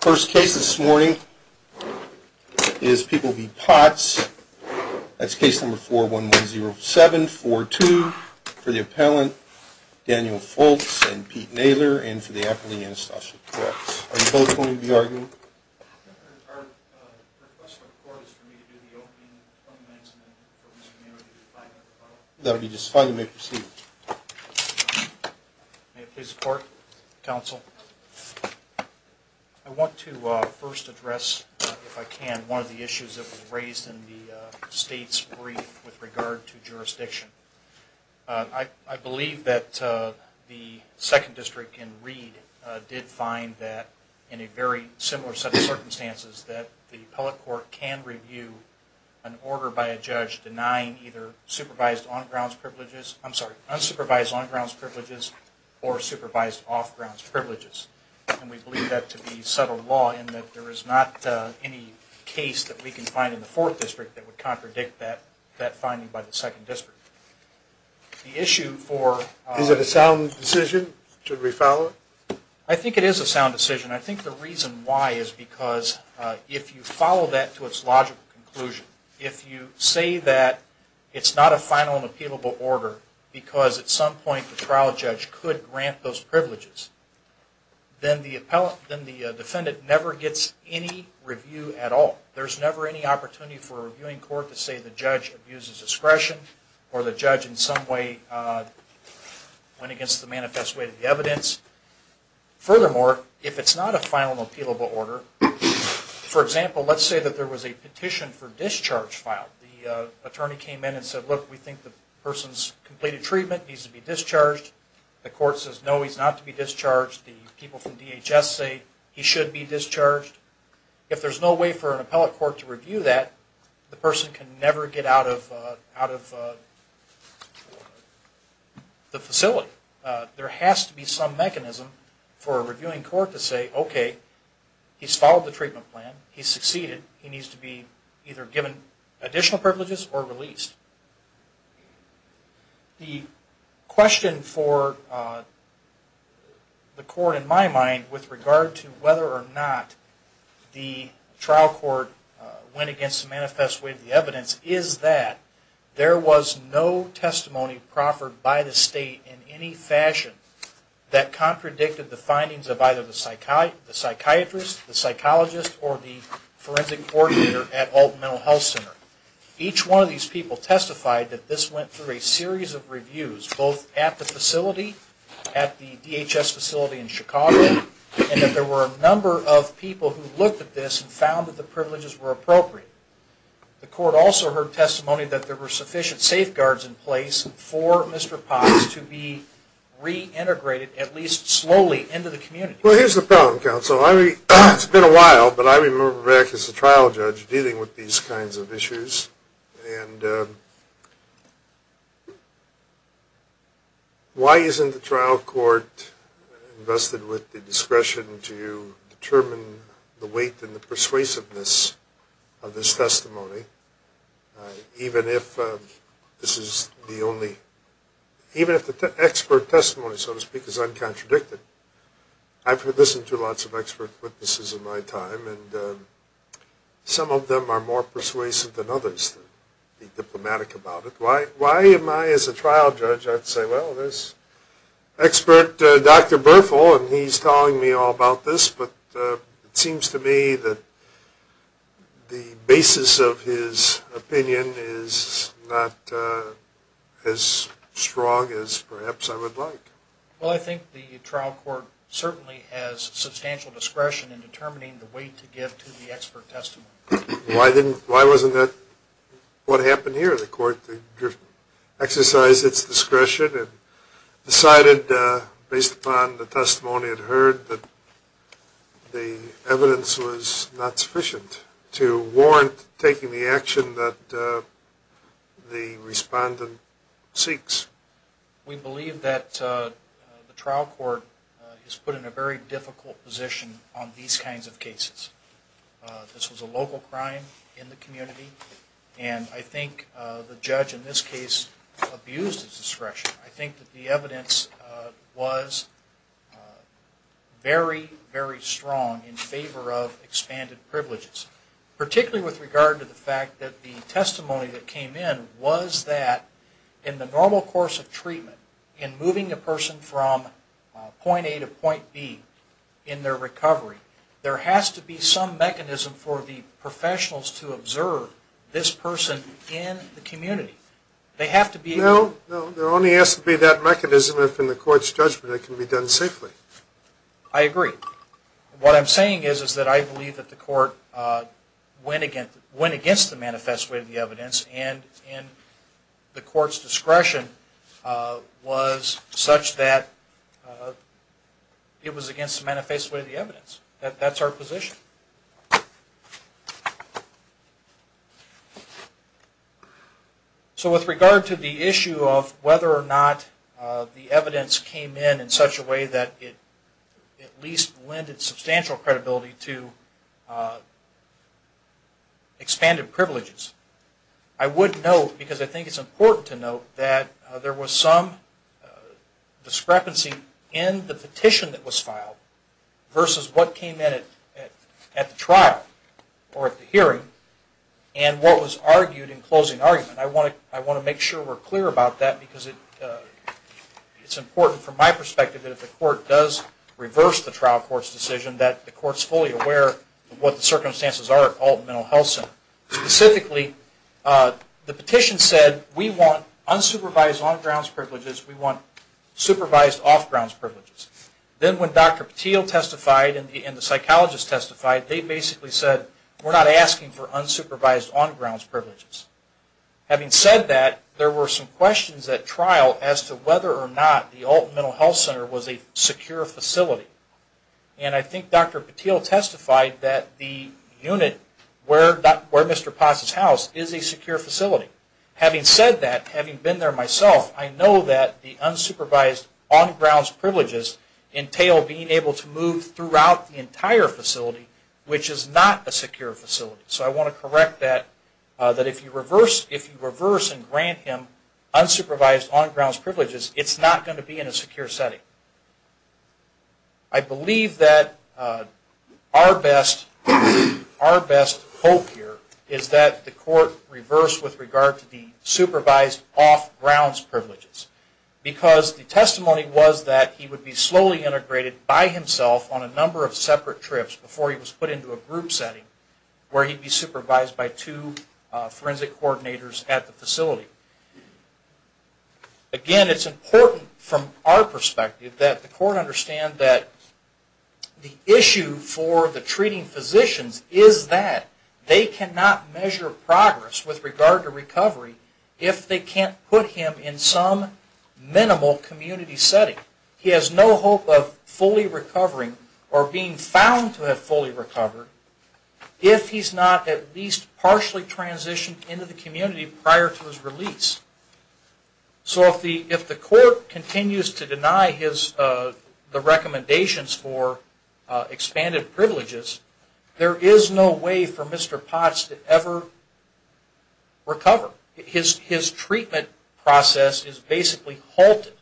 First case this morning is People v. Potts. That's case number 4110742 for the appellant, Daniel Foltz and Pete Naylor, and for the appellant, Anastasia Peretz. Are you both going to be arguing? Our request to the court is for me to do the opening comments and then for Mr. Naylor to do the final rebuttal. That would be just fine. You may proceed. May it please the court, counsel. I want to first address, if I can, one of the issues that was raised in the state's brief with regard to jurisdiction. I believe that the second district in Reed did find that, in a very similar set of circumstances, that the appellate court can review an order by a judge denying either unsupervised on-grounds privileges or supervised off-grounds privileges. And we believe that to be subtle law in that there is not any case that we can find in the fourth district that would contradict that finding by the second district. Is it a sound decision? Should we follow it? I think it is a sound decision. I think the reason why is because if you follow that to its logical conclusion, if you say that it's not a final and appealable order because at some point the trial judge could grant those privileges, then the defendant never gets any review at all. There's never any opportunity for a reviewing court to say the judge abuses discretion or the judge in some way went against the manifest way of the evidence. Furthermore, if it's not a final and appealable order, for example, let's say that there was a petition for discharge filed. The attorney came in and said, look, we think the person's completed treatment and needs to be discharged. The court says, no, he's not to be discharged. The people from DHS say he should be discharged. If there's no way for an appellate court to review that, the person can never get out of the facility. So there has to be some mechanism for a reviewing court to say, okay, he's followed the treatment plan, he's succeeded, he needs to be either given additional privileges or released. The question for the court in my mind with regard to whether or not the trial court went against the manifest way of the evidence is that there was no testimony proffered by the state in any fashion that contradicted the findings of either the psychiatrist, the psychologist, or the forensic coordinator at Alton Mental Health Center. Each one of these people testified that this went through a series of reviews, both at the facility, at the DHS facility in Chicago, and that there were a number of people who looked at this and found that the privileges were appropriate. The court also heard testimony that there were sufficient safeguards in place for Mr. Potts to be reintegrated, at least slowly, into the community. Well, here's the problem, counsel. It's been a while, but I remember back as a trial judge dealing with these kinds of issues. And why isn't the trial court invested with the discretion to determine the weight and the persuasiveness of this testimony, even if the expert testimony, so to speak, is uncontradicted? I've listened to lots of expert witnesses in my time, and some of them are more persuasive than others to be diplomatic about it. Why am I, as a trial judge, I'd say, well, there's expert Dr. Berthel, and he's telling me all about this, but it seems to me that the basis of his opinion is not as strong as perhaps I would like. Well, I think the trial court certainly has substantial discretion in determining the weight to give to the expert testimony. Why wasn't that what happened here? The court exercised its discretion and decided, based upon the testimony it heard, that the evidence was not sufficient to warrant taking the action that the respondent seeks. We believe that the trial court has put in a very difficult position on these kinds of cases. This was a local crime in the community, and I think the judge in this case abused his discretion. I think that the evidence was very, very strong in favor of expanded privileges, particularly with regard to the fact that the testimony that came in was that, in the normal course of treatment, in moving a person from point A to point B in their recovery, there has to be some mechanism for the professionals to observe this person in the community. No, no, there only has to be that mechanism if, in the court's judgment, it can be done safely. I agree. What I'm saying is that I believe that the court went against the manifest way of the evidence and the court's discretion was such that it was against the manifest way of the evidence. That's our position. With regard to the issue of whether or not the evidence came in in such a way that it at least lended substantial credibility to expanded privileges, I would note, because I think it's important to note, that there was some discrepancy in the petition that was filed versus what came in at the trial court. At the trial, or at the hearing, and what was argued in closing argument. I want to make sure we're clear about that because it's important from my perspective that if the court does reverse the trial court's decision, that the court's fully aware of what the circumstances are at Alton Mental Health Center. Specifically, the petition said, we want unsupervised on-grounds privileges, we want supervised off-grounds privileges. Then when Dr. Patil testified and the psychologist testified, they basically said, we're not asking for unsupervised on-grounds privileges. Having said that, there were some questions at trial as to whether or not the Alton Mental Health Center was a secure facility. And I think Dr. Patil testified that the unit where Mr. Potts' house is a secure facility. Having said that, having been there myself, I know that the unsupervised on-grounds privileges entail being able to move throughout the entire facility, which is not a secure facility. So I want to correct that, that if you reverse and grant him unsupervised on-grounds privileges, it's not going to be in a secure setting. I believe that our best hope here is that the court reverse with regard to the supervised off-grounds privileges, because the testimony was that he would be slowly integrated by himself on a number of separate trips before he was put into a group setting where he'd be supervised by two forensic coordinators at the facility. Again, it's important from our perspective that the court understand that the issue for the treating physicians is that they cannot measure progress with regard to recovery if they can't put him in some minimal community setting. He has no hope of fully recovering or being found to have fully recovered if he's not at least partially transitioned into the community prior to his release. So if the court continues to deny the recommendations for expanded privileges, there is no way for Mr. Potts to ever recover. His treatment process is basically halted.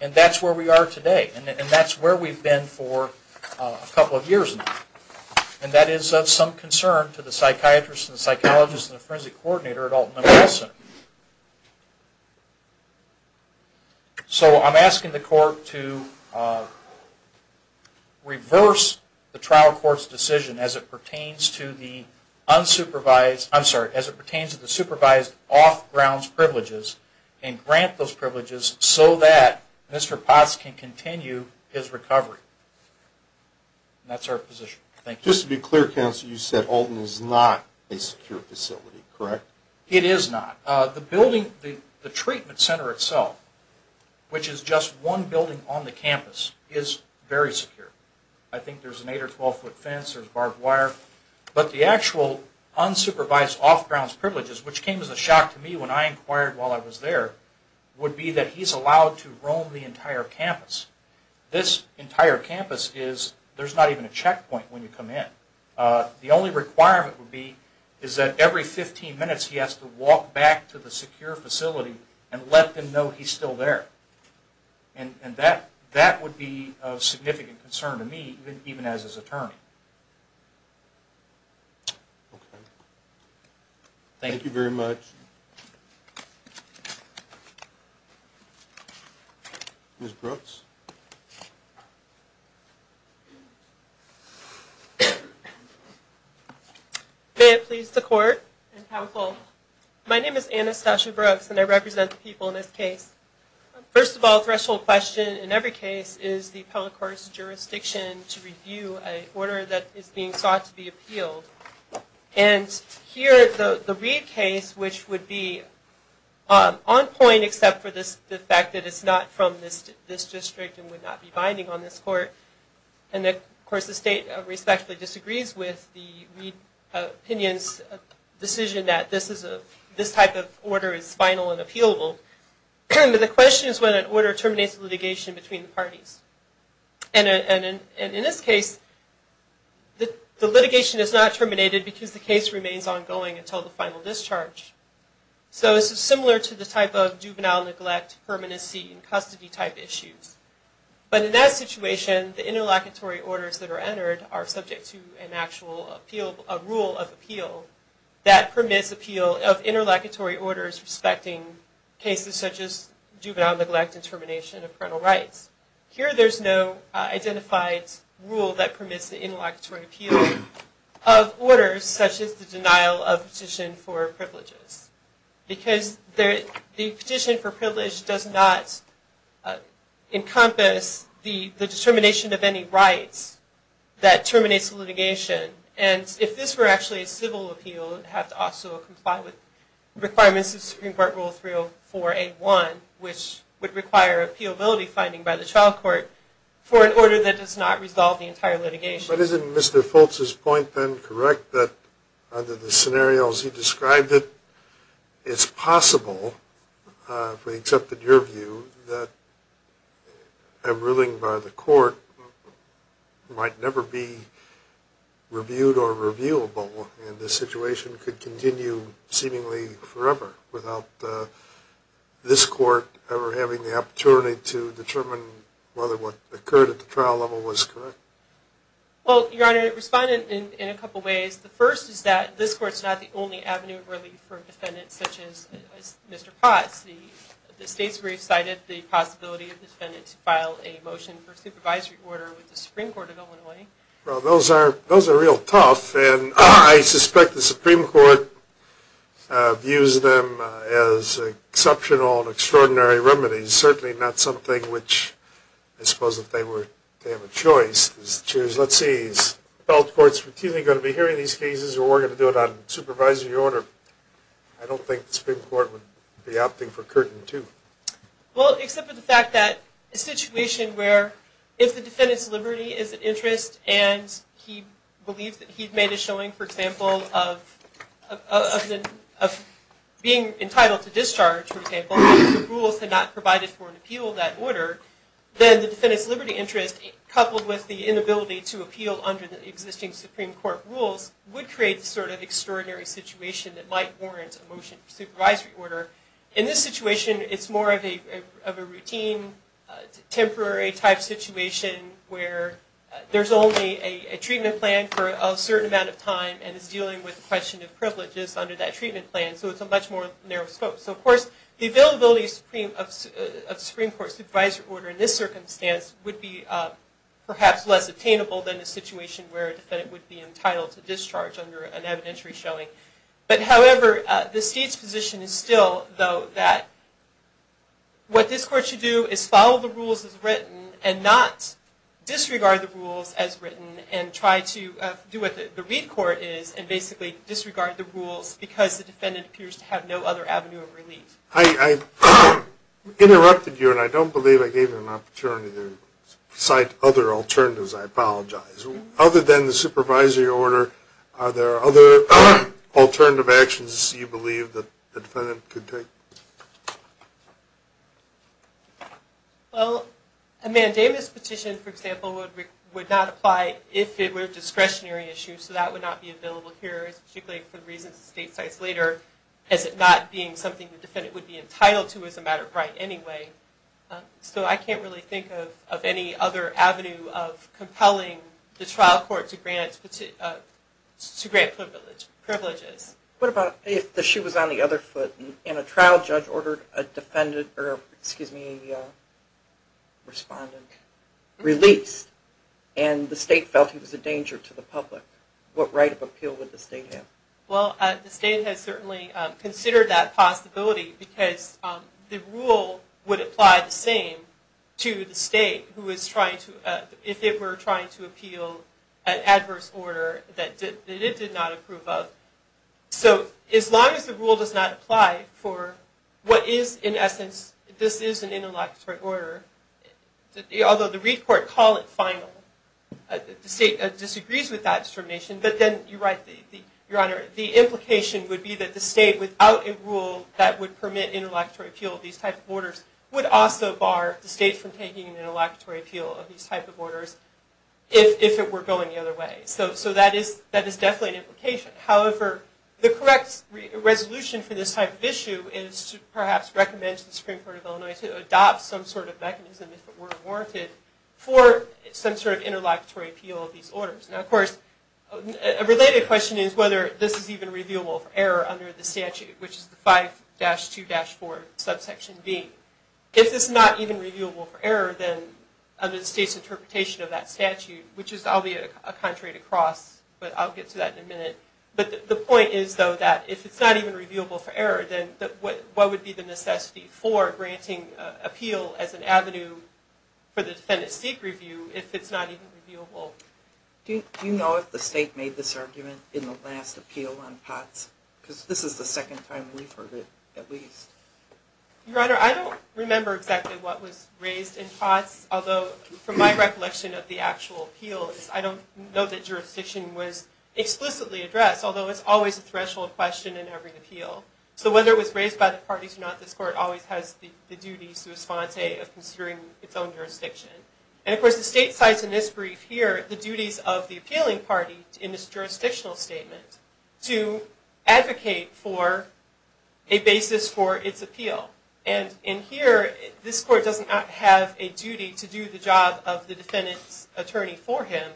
And that's where we are today. And that's where we've been for a couple of years now. And that is of some concern to the psychiatrist and the psychologist and the forensic coordinator at Alton Memorial Center. So I'm asking the court to reverse the trial court's decision as it pertains to the unsupervised, I'm sorry, as it pertains to the supervised off-grounds privileges and grant those privileges so that Mr. Potts can continue his recovery. And that's our position. Thank you. Just to be clear, counsel, you said Alton is not a secure facility, correct? It is not. The building, the treatment center itself, which is just one building on the campus, is very secure. I think there's an 8- or 12-foot fence, there's barbed wire. But the actual unsupervised off-grounds privileges, which came as a shock to me when I inquired while I was there, would be that he's allowed to roam the entire campus. This entire campus is, there's not even a checkpoint when you come in. The only requirement would be is that every 15 minutes he has to walk back to the secure facility and let them know he's still there. And that would be of significant concern to me, even as his attorney. Thank you very much. Ms. Brooks? May it please the Court and counsel, my name is Anastasia Brooks, and I represent the people in this case. First of all, a threshold question in every case is the appellate court's jurisdiction to review an order And here, the Reid case, which would be on point, except for the fact that it's not from this district and would not be binding on this court. And of course the state respectfully disagrees with the Reid opinion's decision that this type of order is final and appealable. The question is when an order terminates litigation between the parties. And in this case, the litigation is not terminated because the case remains ongoing until the final discharge. So this is similar to the type of juvenile neglect, permanency, and custody type issues. But in that situation, the interlocutory orders that are entered are subject to an actual rule of appeal that permits appeal of interlocutory orders respecting cases such as juvenile neglect and termination of parental rights. However, there's no identified rule that permits the interlocutory appeal of orders such as the denial of petition for privileges. Because the petition for privilege does not encompass the determination of any rights that terminates litigation. And if this were actually a civil appeal, it would have to also comply with requirements of Supreme Court Rule 304A1, which would require appealability finding by the trial court for an order that does not resolve the entire litigation. But isn't Mr. Fultz's point then correct that under the scenarios he described, it's possible, except in your view, that a ruling by the court might never be reviewed or reviewable. And the situation could continue seemingly forever without this court ever having the opportunity to determine whether what occurred at the trial level was correct. Well, Your Honor, it responded in a couple of ways. The first is that this court's not the only avenue of relief for defendants such as Mr. Potts. The state's brief cited the possibility of defendants filing a motion for supervisory order with the Supreme Court of Illinois. Well, those are real tough. And I suspect the Supreme Court views them as exceptional and extraordinary remedies, certainly not something which I suppose if they were to have a choice, let's see, is the federal courts routinely going to be hearing these cases or are we going to do it on supervisory order? I don't think the Supreme Court would be opting for curtain two. Well, except for the fact that a situation where if the defendant's liberty is an interest and he believes that he made a showing, for example, of being entitled to discharge, for example, if the rules had not provided for an appeal of that order, then the defendant's liberty interest coupled with the inability to appeal under the existing Supreme Court rules would create the sort of extraordinary situation that might warrant a motion for supervisory order. In this situation, it's more of a routine, temporary type situation where there's only a treatment plan for a certain amount of time and it's dealing with the question of privileges under that treatment plan, so it's a much more narrow scope. So, of course, the availability of Supreme Court supervisory order in this circumstance would be perhaps less attainable than a situation where a defendant would be entitled to discharge under an evidentiary showing. But, however, the state's position is still, though, that what this court should do is follow the rules as written and not disregard the rules as written and try to do what the Reed Court is and basically disregard the rules because the defendant appears to have no other avenue of relief. I interrupted you and I don't believe I gave you an opportunity to cite other alternatives, I apologize. Other than the supervisory order, are there other alternative actions you believe that the defendant could take? Well, a mandamus petition, for example, would not apply if it were a discretionary issue, so that would not be available here, particularly for the reasons the state cites later, as it not being something the defendant would be entitled to as a matter of right anyway. So I can't really think of any other avenue of compelling the trial court to grant privileges. What about if the shoe was on the other foot and a trial judge ordered a defendant, or, excuse me, a respondent released and the state felt he was a danger to the public? What right of appeal would the state have? Well, the state has certainly considered that possibility because the rule would apply the same to the state if it were trying to appeal an adverse order that it did not approve of. So as long as the rule does not apply for what is, in essence, this is an interlocutory order, although the Reed Court call it final, the state disagrees with that determination, but then you're right, Your Honor, the implication would be that the state, without a rule that would permit interlocutory appeal of these types of orders, would also bar the state from taking an interlocutory appeal of these types of orders if it were going the other way. So that is definitely an implication. However, the correct resolution for this type of issue is to perhaps recommend to the Supreme Court of Illinois to adopt some sort of mechanism, if it were warranted, for some sort of interlocutory appeal of these orders. Now, of course, a related question is whether this is even revealable for error under the statute, which is the 5-2-4 subsection B. If it's not even revealable for error, then under the state's interpretation of that statute, which I'll be a contrary to Cross, but I'll get to that in a minute. But the point is, though, that if it's not even revealable for error, then what would be the necessity for granting appeal as an avenue for the defendant's state review if it's not even revealable? Do you know if the state made this argument in the last appeal on POTS? Because this is the second time we've heard it, at least. Your Honor, I don't remember exactly what was raised in POTS, although from my recollection of the actual appeals, I don't know that jurisdiction was explicitly addressed, although it's always a threshold question in every appeal. So whether it was raised by the parties or not, this Court always has the duty, sua sponte, of considering its own jurisdiction. And of course, the state cites in this brief here the duties of the appealing party in this jurisdictional statement to advocate for a basis for its appeal. And in here, this Court does not have a duty to do the job of the defendant's attorney for him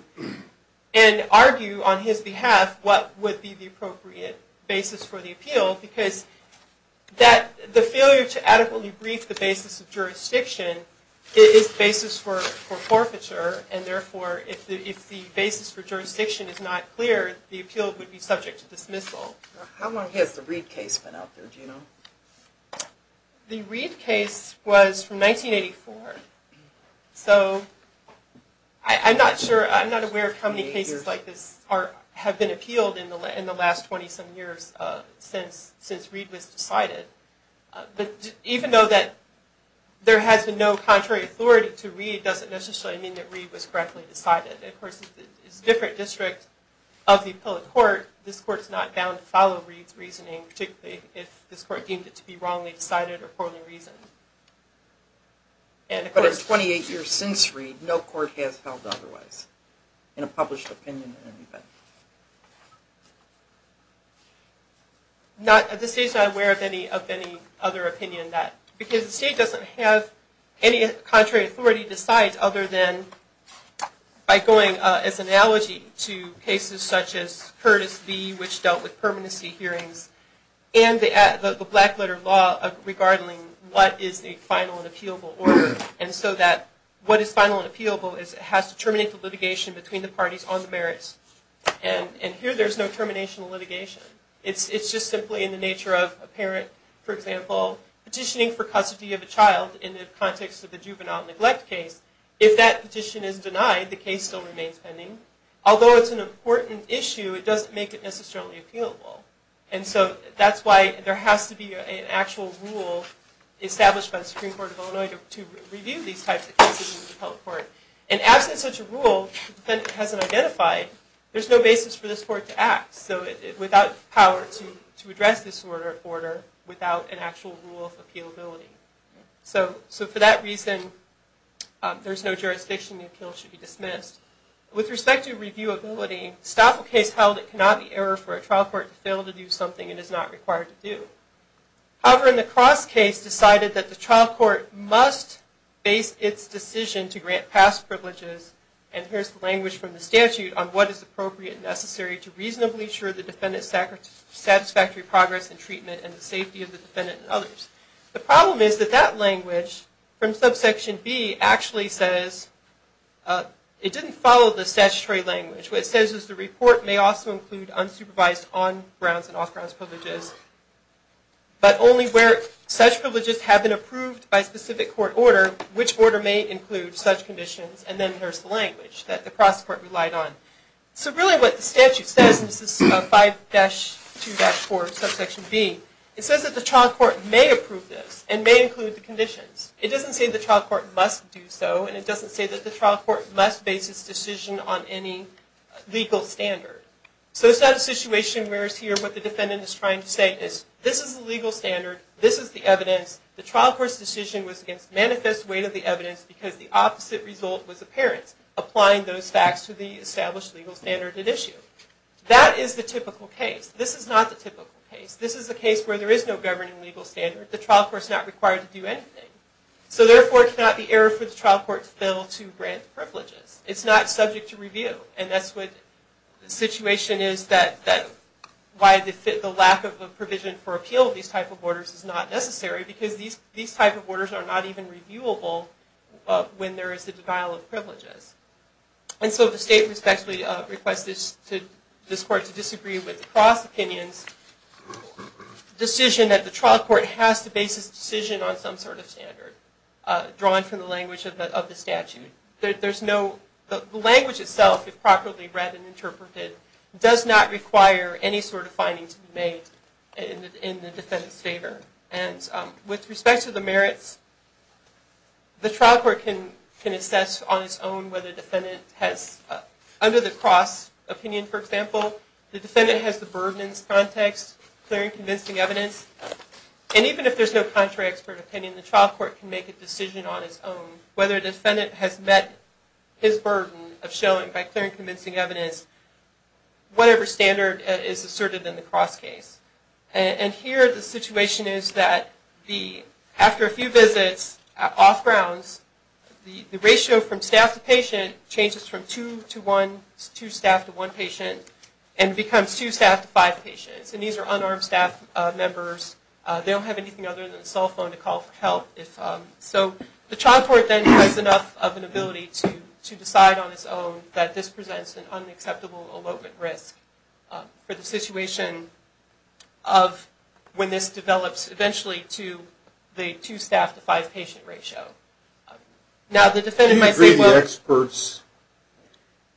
and argue on his behalf what would be the appropriate basis for the appeal, because the failure to adequately brief the basis of jurisdiction is the basis for forfeiture, and therefore if the basis for jurisdiction is not clear, the appeal would be subject to dismissal. How long has the Reed case been out there, do you know? The Reed case was from 1984. So I'm not sure, I'm not aware of how many cases like this have been appealed in the last 20 some years since Reed was decided. But even though that there has been no contrary authority to Reed, it doesn't necessarily mean that Reed was correctly decided. Of course, it's a different district of the appellate court. This Court's not bound to follow Reed's reasoning, particularly if this Court deemed it to be wrongly decided or poorly reasoned. But in 28 years since Reed, no court has held otherwise in a published opinion. At this stage I'm not aware of any other opinion on that, because the State doesn't have any contrary authority to decide other than by going as an analogy to cases such as Curtis v. which dealt with permanency hearings, and the black letter law regarding what is the final and appealable order. And so that what is final and appealable has to terminate the litigation between the parties on the merits. And here there's no termination of litigation. It's just simply in the nature of a parent, for example, petitioning for custody of a child in the context of the juvenile neglect case. If that petition is denied, the case still remains pending. Although it's an important issue, it doesn't make it necessarily appealable. And so that's why there has to be an actual rule established by the Supreme Court of Illinois to review these types of cases in the appellate court. And absent such a rule, the defendant hasn't identified, there's no basis for this Court to act. So without power to address this order without an actual rule of appealability. So for that reason, there's no jurisdiction, the appeal should be dismissed. With respect to reviewability, Stoffel case held it cannot be error for a trial court to fail to do something it is not required to do. However, in the Cross case decided that the trial court must base its decision to grant past privileges, and here's the language from the statute on what is appropriate and necessary to reasonably assure the defendant's satisfactory progress in treatment and the safety of the defendant and others. The problem is that that language from subsection B actually says, it didn't follow the statutory language. What it says is the report may also include unsupervised on grounds and off grounds privileges, but only where such privileges have been approved by specific court order, which order may include such conditions. And then there's the language that the cross court relied on. So really what the statute says, and this is 5-2-4 subsection B, it says that the trial court may approve this and may include the conditions. It doesn't say the trial court must do so, and it doesn't say that the trial court must base its decision on any legal standard. So it's not a situation where it's here what the defendant is trying to say is, this is the legal standard, this is the evidence, the trial court's decision was against manifest weight of the evidence because the opposite result was apparent. Applying those facts to the established legal standard at issue. That is the typical case. This is not the typical case. This is the case where there is no governing legal standard. The trial court's not required to do anything. So therefore it's not the error for the trial court to fail to grant privileges. It's not subject to review. And that's what the situation is that why the lack of a provision for appeal of these type of orders is not necessary because these type of orders are not even reviewable when there is the denial of privileges. And so the state respectfully requests this court to disagree with the cross-opinions decision that the trial court has to base its decision on some sort of standard drawn from the language of the statute. The language itself, if properly read and interpreted, does not require any sort of finding to be made in the defendant's favor. And with respect to the merits, the trial court can assess on its own whether the defendant has, under the cross-opinion, for example, the defendant has the burden in this context, clearing convincing evidence. And even if there's no contrary expert opinion, the trial court can make a decision on its own whether the defendant has met his burden of showing by clearing convincing evidence whatever standard is asserted in the cross-case. And here the situation is that after a few visits off grounds, the ratio from staff to patient changes from two staff to one patient and becomes two staff to five patients. And these are unarmed staff members. They don't have anything other than a cell phone to call for help. So the trial court then has enough of an ability to decide on its own that this presents an unacceptable elopement risk for the situation of when this develops eventually to the two staff to five patient ratio. Now, the defendant might say, well. Do you agree the experts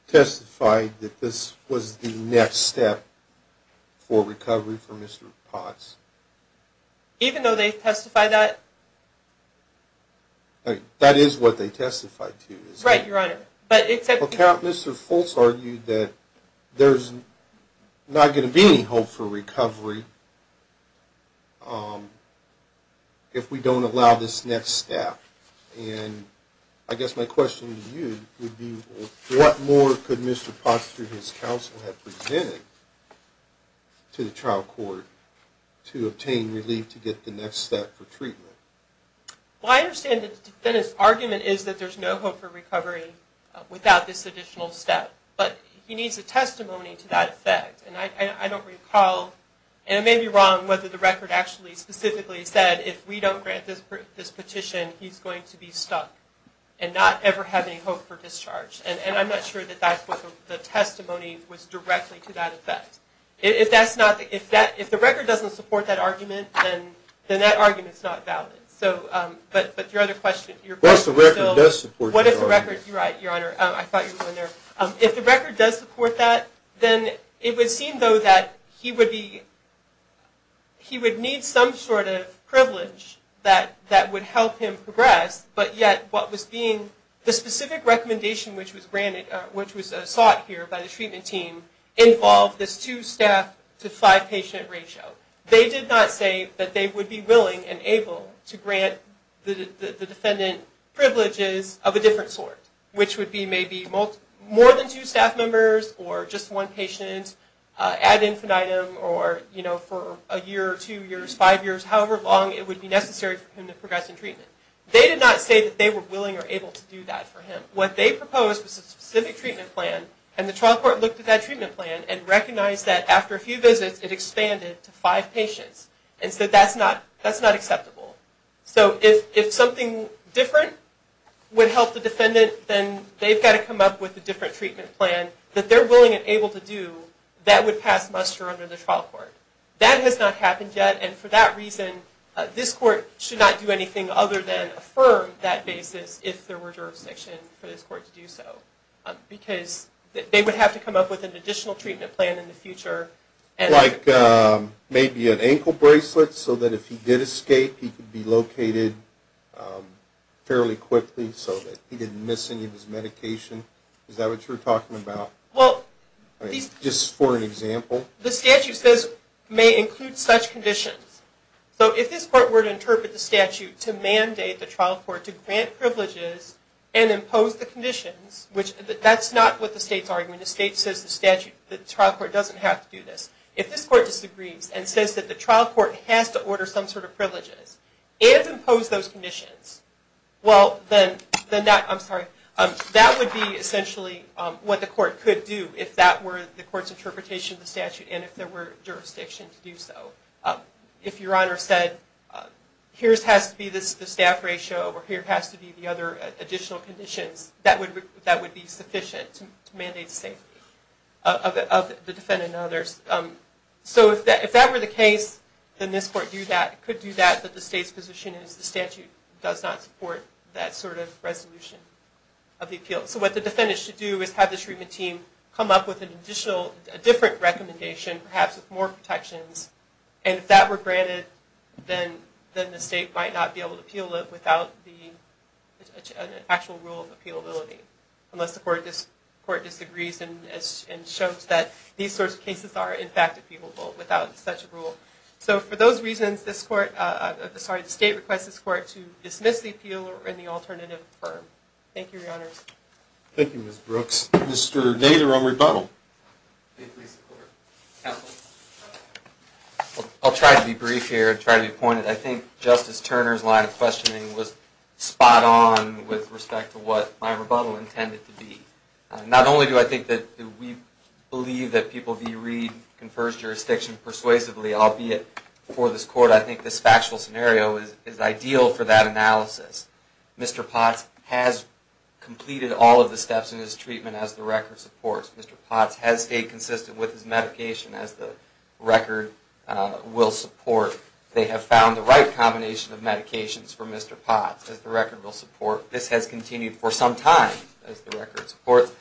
testified that this was the next step for recovery for Mr. Potts? Even though they testified that? That is what they testified to. Right, Your Honor. Mr. Fultz argued that there's not going to be any hope for recovery if we don't allow this next step. And I guess my question to you would be what more could Mr. Potts, through his counsel, have presented to the trial court to obtain relief to get the next step for treatment? Well, I understand the defendant's argument is that there's no hope for recovery without this additional step. But he needs a testimony to that effect. And I don't recall, and it may be wrong whether the record actually specifically said if we don't grant this petition, he's going to be stuck and not ever have any hope for discharge. And I'm not sure that that's what the testimony was directly to that effect. If the record doesn't support that argument, then that argument's not valid. But your other question, your point is still, what if the record does support that? You're right, Your Honor. I thought you were going there. If the record does support that, then it would seem, though, that he would need some sort of privilege that would help him progress. But yet, what was being, the specific recommendation which was granted, which was sought here by the treatment team, involved this two-staff to five-patient ratio. They did not say that they would be willing and able to grant the defendant privileges of a different sort, which would be maybe more than two staff members, or just one patient ad infinitum, or for a year or two years, five years, however long it would be necessary for him to progress in treatment. They did not say that they were willing or able to do that for him. What they proposed was a specific treatment plan, and the trial court looked at that treatment plan and recognized that after a few visits, it expanded to five patients. And so that's not acceptable. So if something different would help the defendant, then they've got to come up with a different treatment plan that they're willing and able to do that would pass muster under the trial court. That has not happened yet, and for that reason, this court should not do anything other than affirm that basis if there were jurisdiction for this court to do so. Because they would have to come up with an additional treatment plan in the future. Like maybe an ankle bracelet so that if he did escape, he could be located fairly quickly so that he didn't miss any of his medication? Is that what you were talking about? Well, these... Just for an example? The statute says may include such conditions. So if this court were to interpret the statute to mandate the trial court to grant privileges and impose the conditions, which that's not what the state's arguing. The state says the trial court doesn't have to do this. If this court disagrees and says that the trial court has to order some sort of privileges and impose those conditions, well, then that would be essentially what the court could do if that were the court's interpretation of the statute and if there were jurisdiction to do so. If Your Honor said, here has to be the staff ratio or here has to be the other additional conditions, that would be sufficient to mandate the safety of the defendant and others. So if that were the case, then this court could do that, but the state's position is the statute does not support that sort of resolution of the appeal. So what the defendant should do is have the treatment team come up with a different recommendation, perhaps with more protections, and if that were granted, then the state might not be able to appeal it without the actual rule of appealability. Unless the court disagrees and shows that these sorts of cases are in fact appealable without such a rule. So for those reasons, the state requests this court to dismiss the appeal or any alternative firm. Thank you, Your Honors. Thank you, Ms. Brooks. Mr. Nader on rebuttal. May it please the Court. Counsel. I'll try to be brief here and try to be pointed. I think Justice Turner's line of questioning was spot on with respect to what my rebuttal intended to be. Not only do I think that we believe that People v. Reed confers jurisdiction persuasively, albeit for this court, I think this factual scenario is ideal for that analysis. Mr. Potts has completed all of the steps in his treatment, as the record supports. Mr. Potts has stayed consistent with his medication, as the record will support. They have found the right combination of medications for Mr. Potts, as the record will support. This has continued for some time, as the record supports.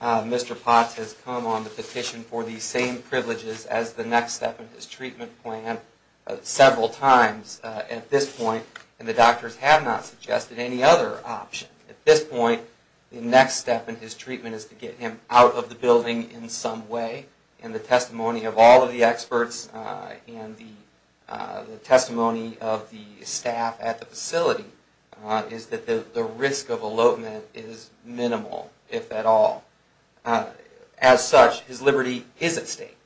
Mr. Potts has come on the petition for these same privileges as the next step in his treatment plan several times at this point, and the doctors have not suggested any other option. At this point, the next step in his treatment is to get him out of the building in some way, and the testimony of all of the experts and the testimony of the staff at the facility is that the risk of elopement is minimal, if at all. As such, his liberty is at stake.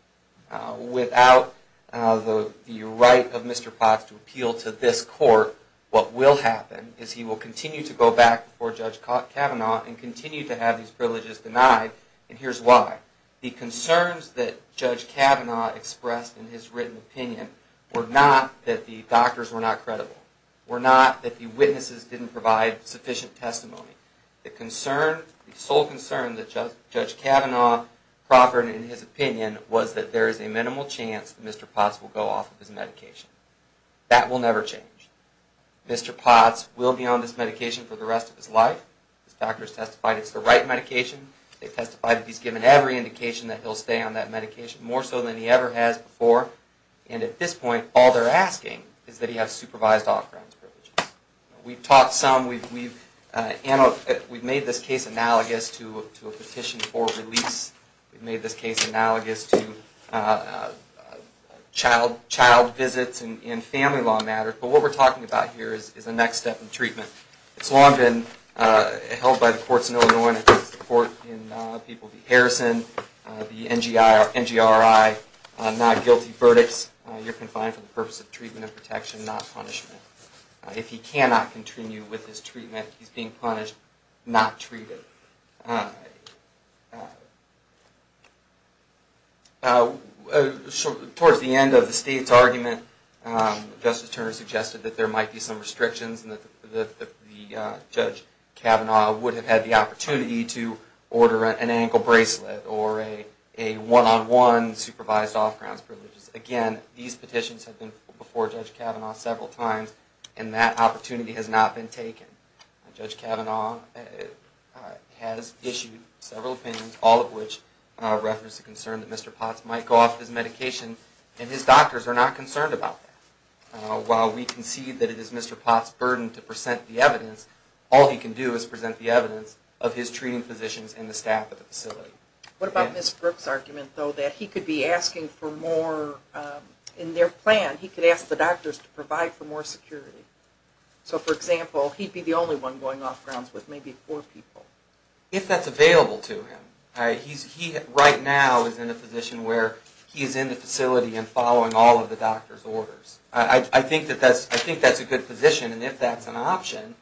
Without the right of Mr. Potts to appeal to this court, what will happen is he will continue to go back before Judge Kavanaugh and continue to have these privileges denied, and here's why. The concerns that Judge Kavanaugh expressed in his written opinion were not that the doctors were not credible, were not that the witnesses didn't provide sufficient testimony. The sole concern that Judge Kavanaugh proffered in his opinion was that there is a minimal chance that Mr. Potts will go off of his medication. That will never change. Mr. Potts will be on this medication for the rest of his life. His doctors testified it's the right medication. They testified that he's given every indication that he'll stay on that medication, more so than he ever has before, and at this point, all they're asking is that he have supervised off-grounds privileges. We've talked some. We've made this case analogous to a petition for release. We've made this case analogous to child visits and family law matters, but what we're talking about here is the next step in treatment. It's long been held by the courts in Illinois and the court in Harrison, the NGRI, not guilty verdicts. You're confined for the purpose of treatment and protection, not punishment. If he cannot continue with his treatment, he's being punished, not treated. Towards the end of the state's argument, Justice Turner suggested that there might be some restrictions and that Judge Kavanaugh would have had the opportunity to order an ankle bracelet or a one-on-one supervised off-grounds privileges. Again, these petitions have been before Judge Kavanaugh several times, and that opportunity has not been taken. Judge Kavanaugh has issued several opinions, all of which reference the concern that Mr. Potts might go off his medication, and his doctors are not concerned about that. While we concede that it is Mr. Potts' burden to present the evidence, all he can do is present the evidence of his treating physicians and the staff at the facility. What about Ms. Brooks' argument, though, that he could be asking for more... In their plan, he could ask the doctors to provide for more security. So, for example, he'd be the only one going off-grounds with maybe four people. If that's available to him. He, right now, is in a position where he's in the facility and following all of the doctors' orders. I think that's a good position, and if that's an option,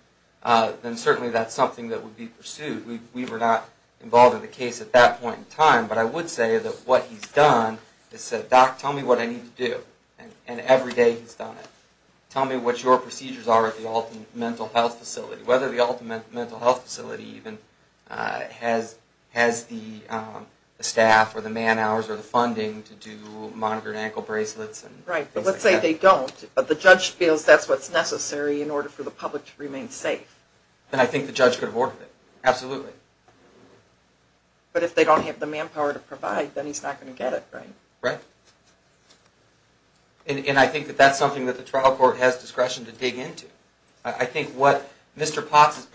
then certainly that's something that would be pursued. We were not involved in the case at that point in time, but I would say that what he's done is said, Doc, tell me what I need to do, and every day he's done it. Tell me what your procedures are at the Alton Mental Health Facility, whether the Alton Mental Health Facility even has the staff or the man-hours or the funding to do monitor and ankle bracelets. Right, but let's say they don't, but the judge feels that's what's necessary in order for the public to remain safe. Then I think the judge could have ordered it, absolutely. But if they don't have the manpower to provide, then he's not going to get it, right? Right. And I think that that's something that the trial court has discretion to dig into. I think what Mr. Potts'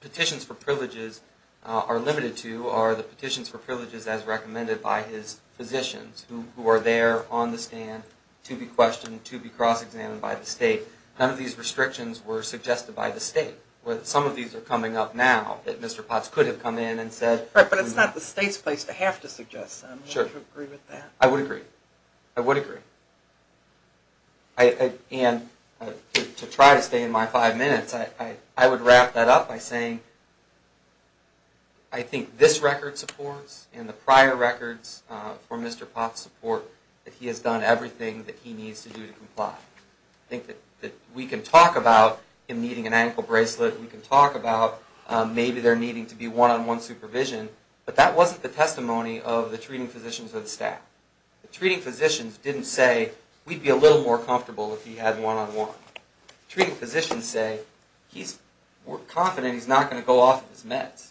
petitions for privileges are limited to are the petitions for privileges as recommended by his physicians, who are there on the stand to be questioned, to be cross-examined by the state. None of these restrictions were suggested by the state. Some of these are coming up now that Mr. Potts could have come in and said... Right, but it's not the state's place to have to suggest them. Sure. Would you agree with that? I would agree. I would agree. And to try to stay in my five minutes, I would wrap that up by saying I think this record supports and the prior records for Mr. Potts support that he has done everything that he needs to do to comply. I think that we can talk about him needing an ankle bracelet. We can talk about maybe there needing to be one-on-one supervision. But that wasn't the testimony of the treating physicians or the staff. The treating physicians didn't say, we'd be a little more comfortable if he had one-on-one. The treating physicians say, we're confident he's not going to go off of his meds.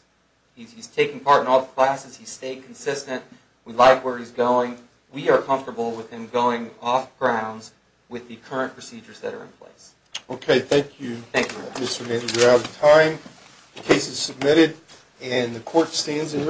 He's taking part in all the classes. He's staying consistent. We like where he's going. We are comfortable with him going off grounds with the current procedures that are in place. Okay, thank you. Thank you. Mr. Nandy, we're out of time. The case is submitted and the court stands in...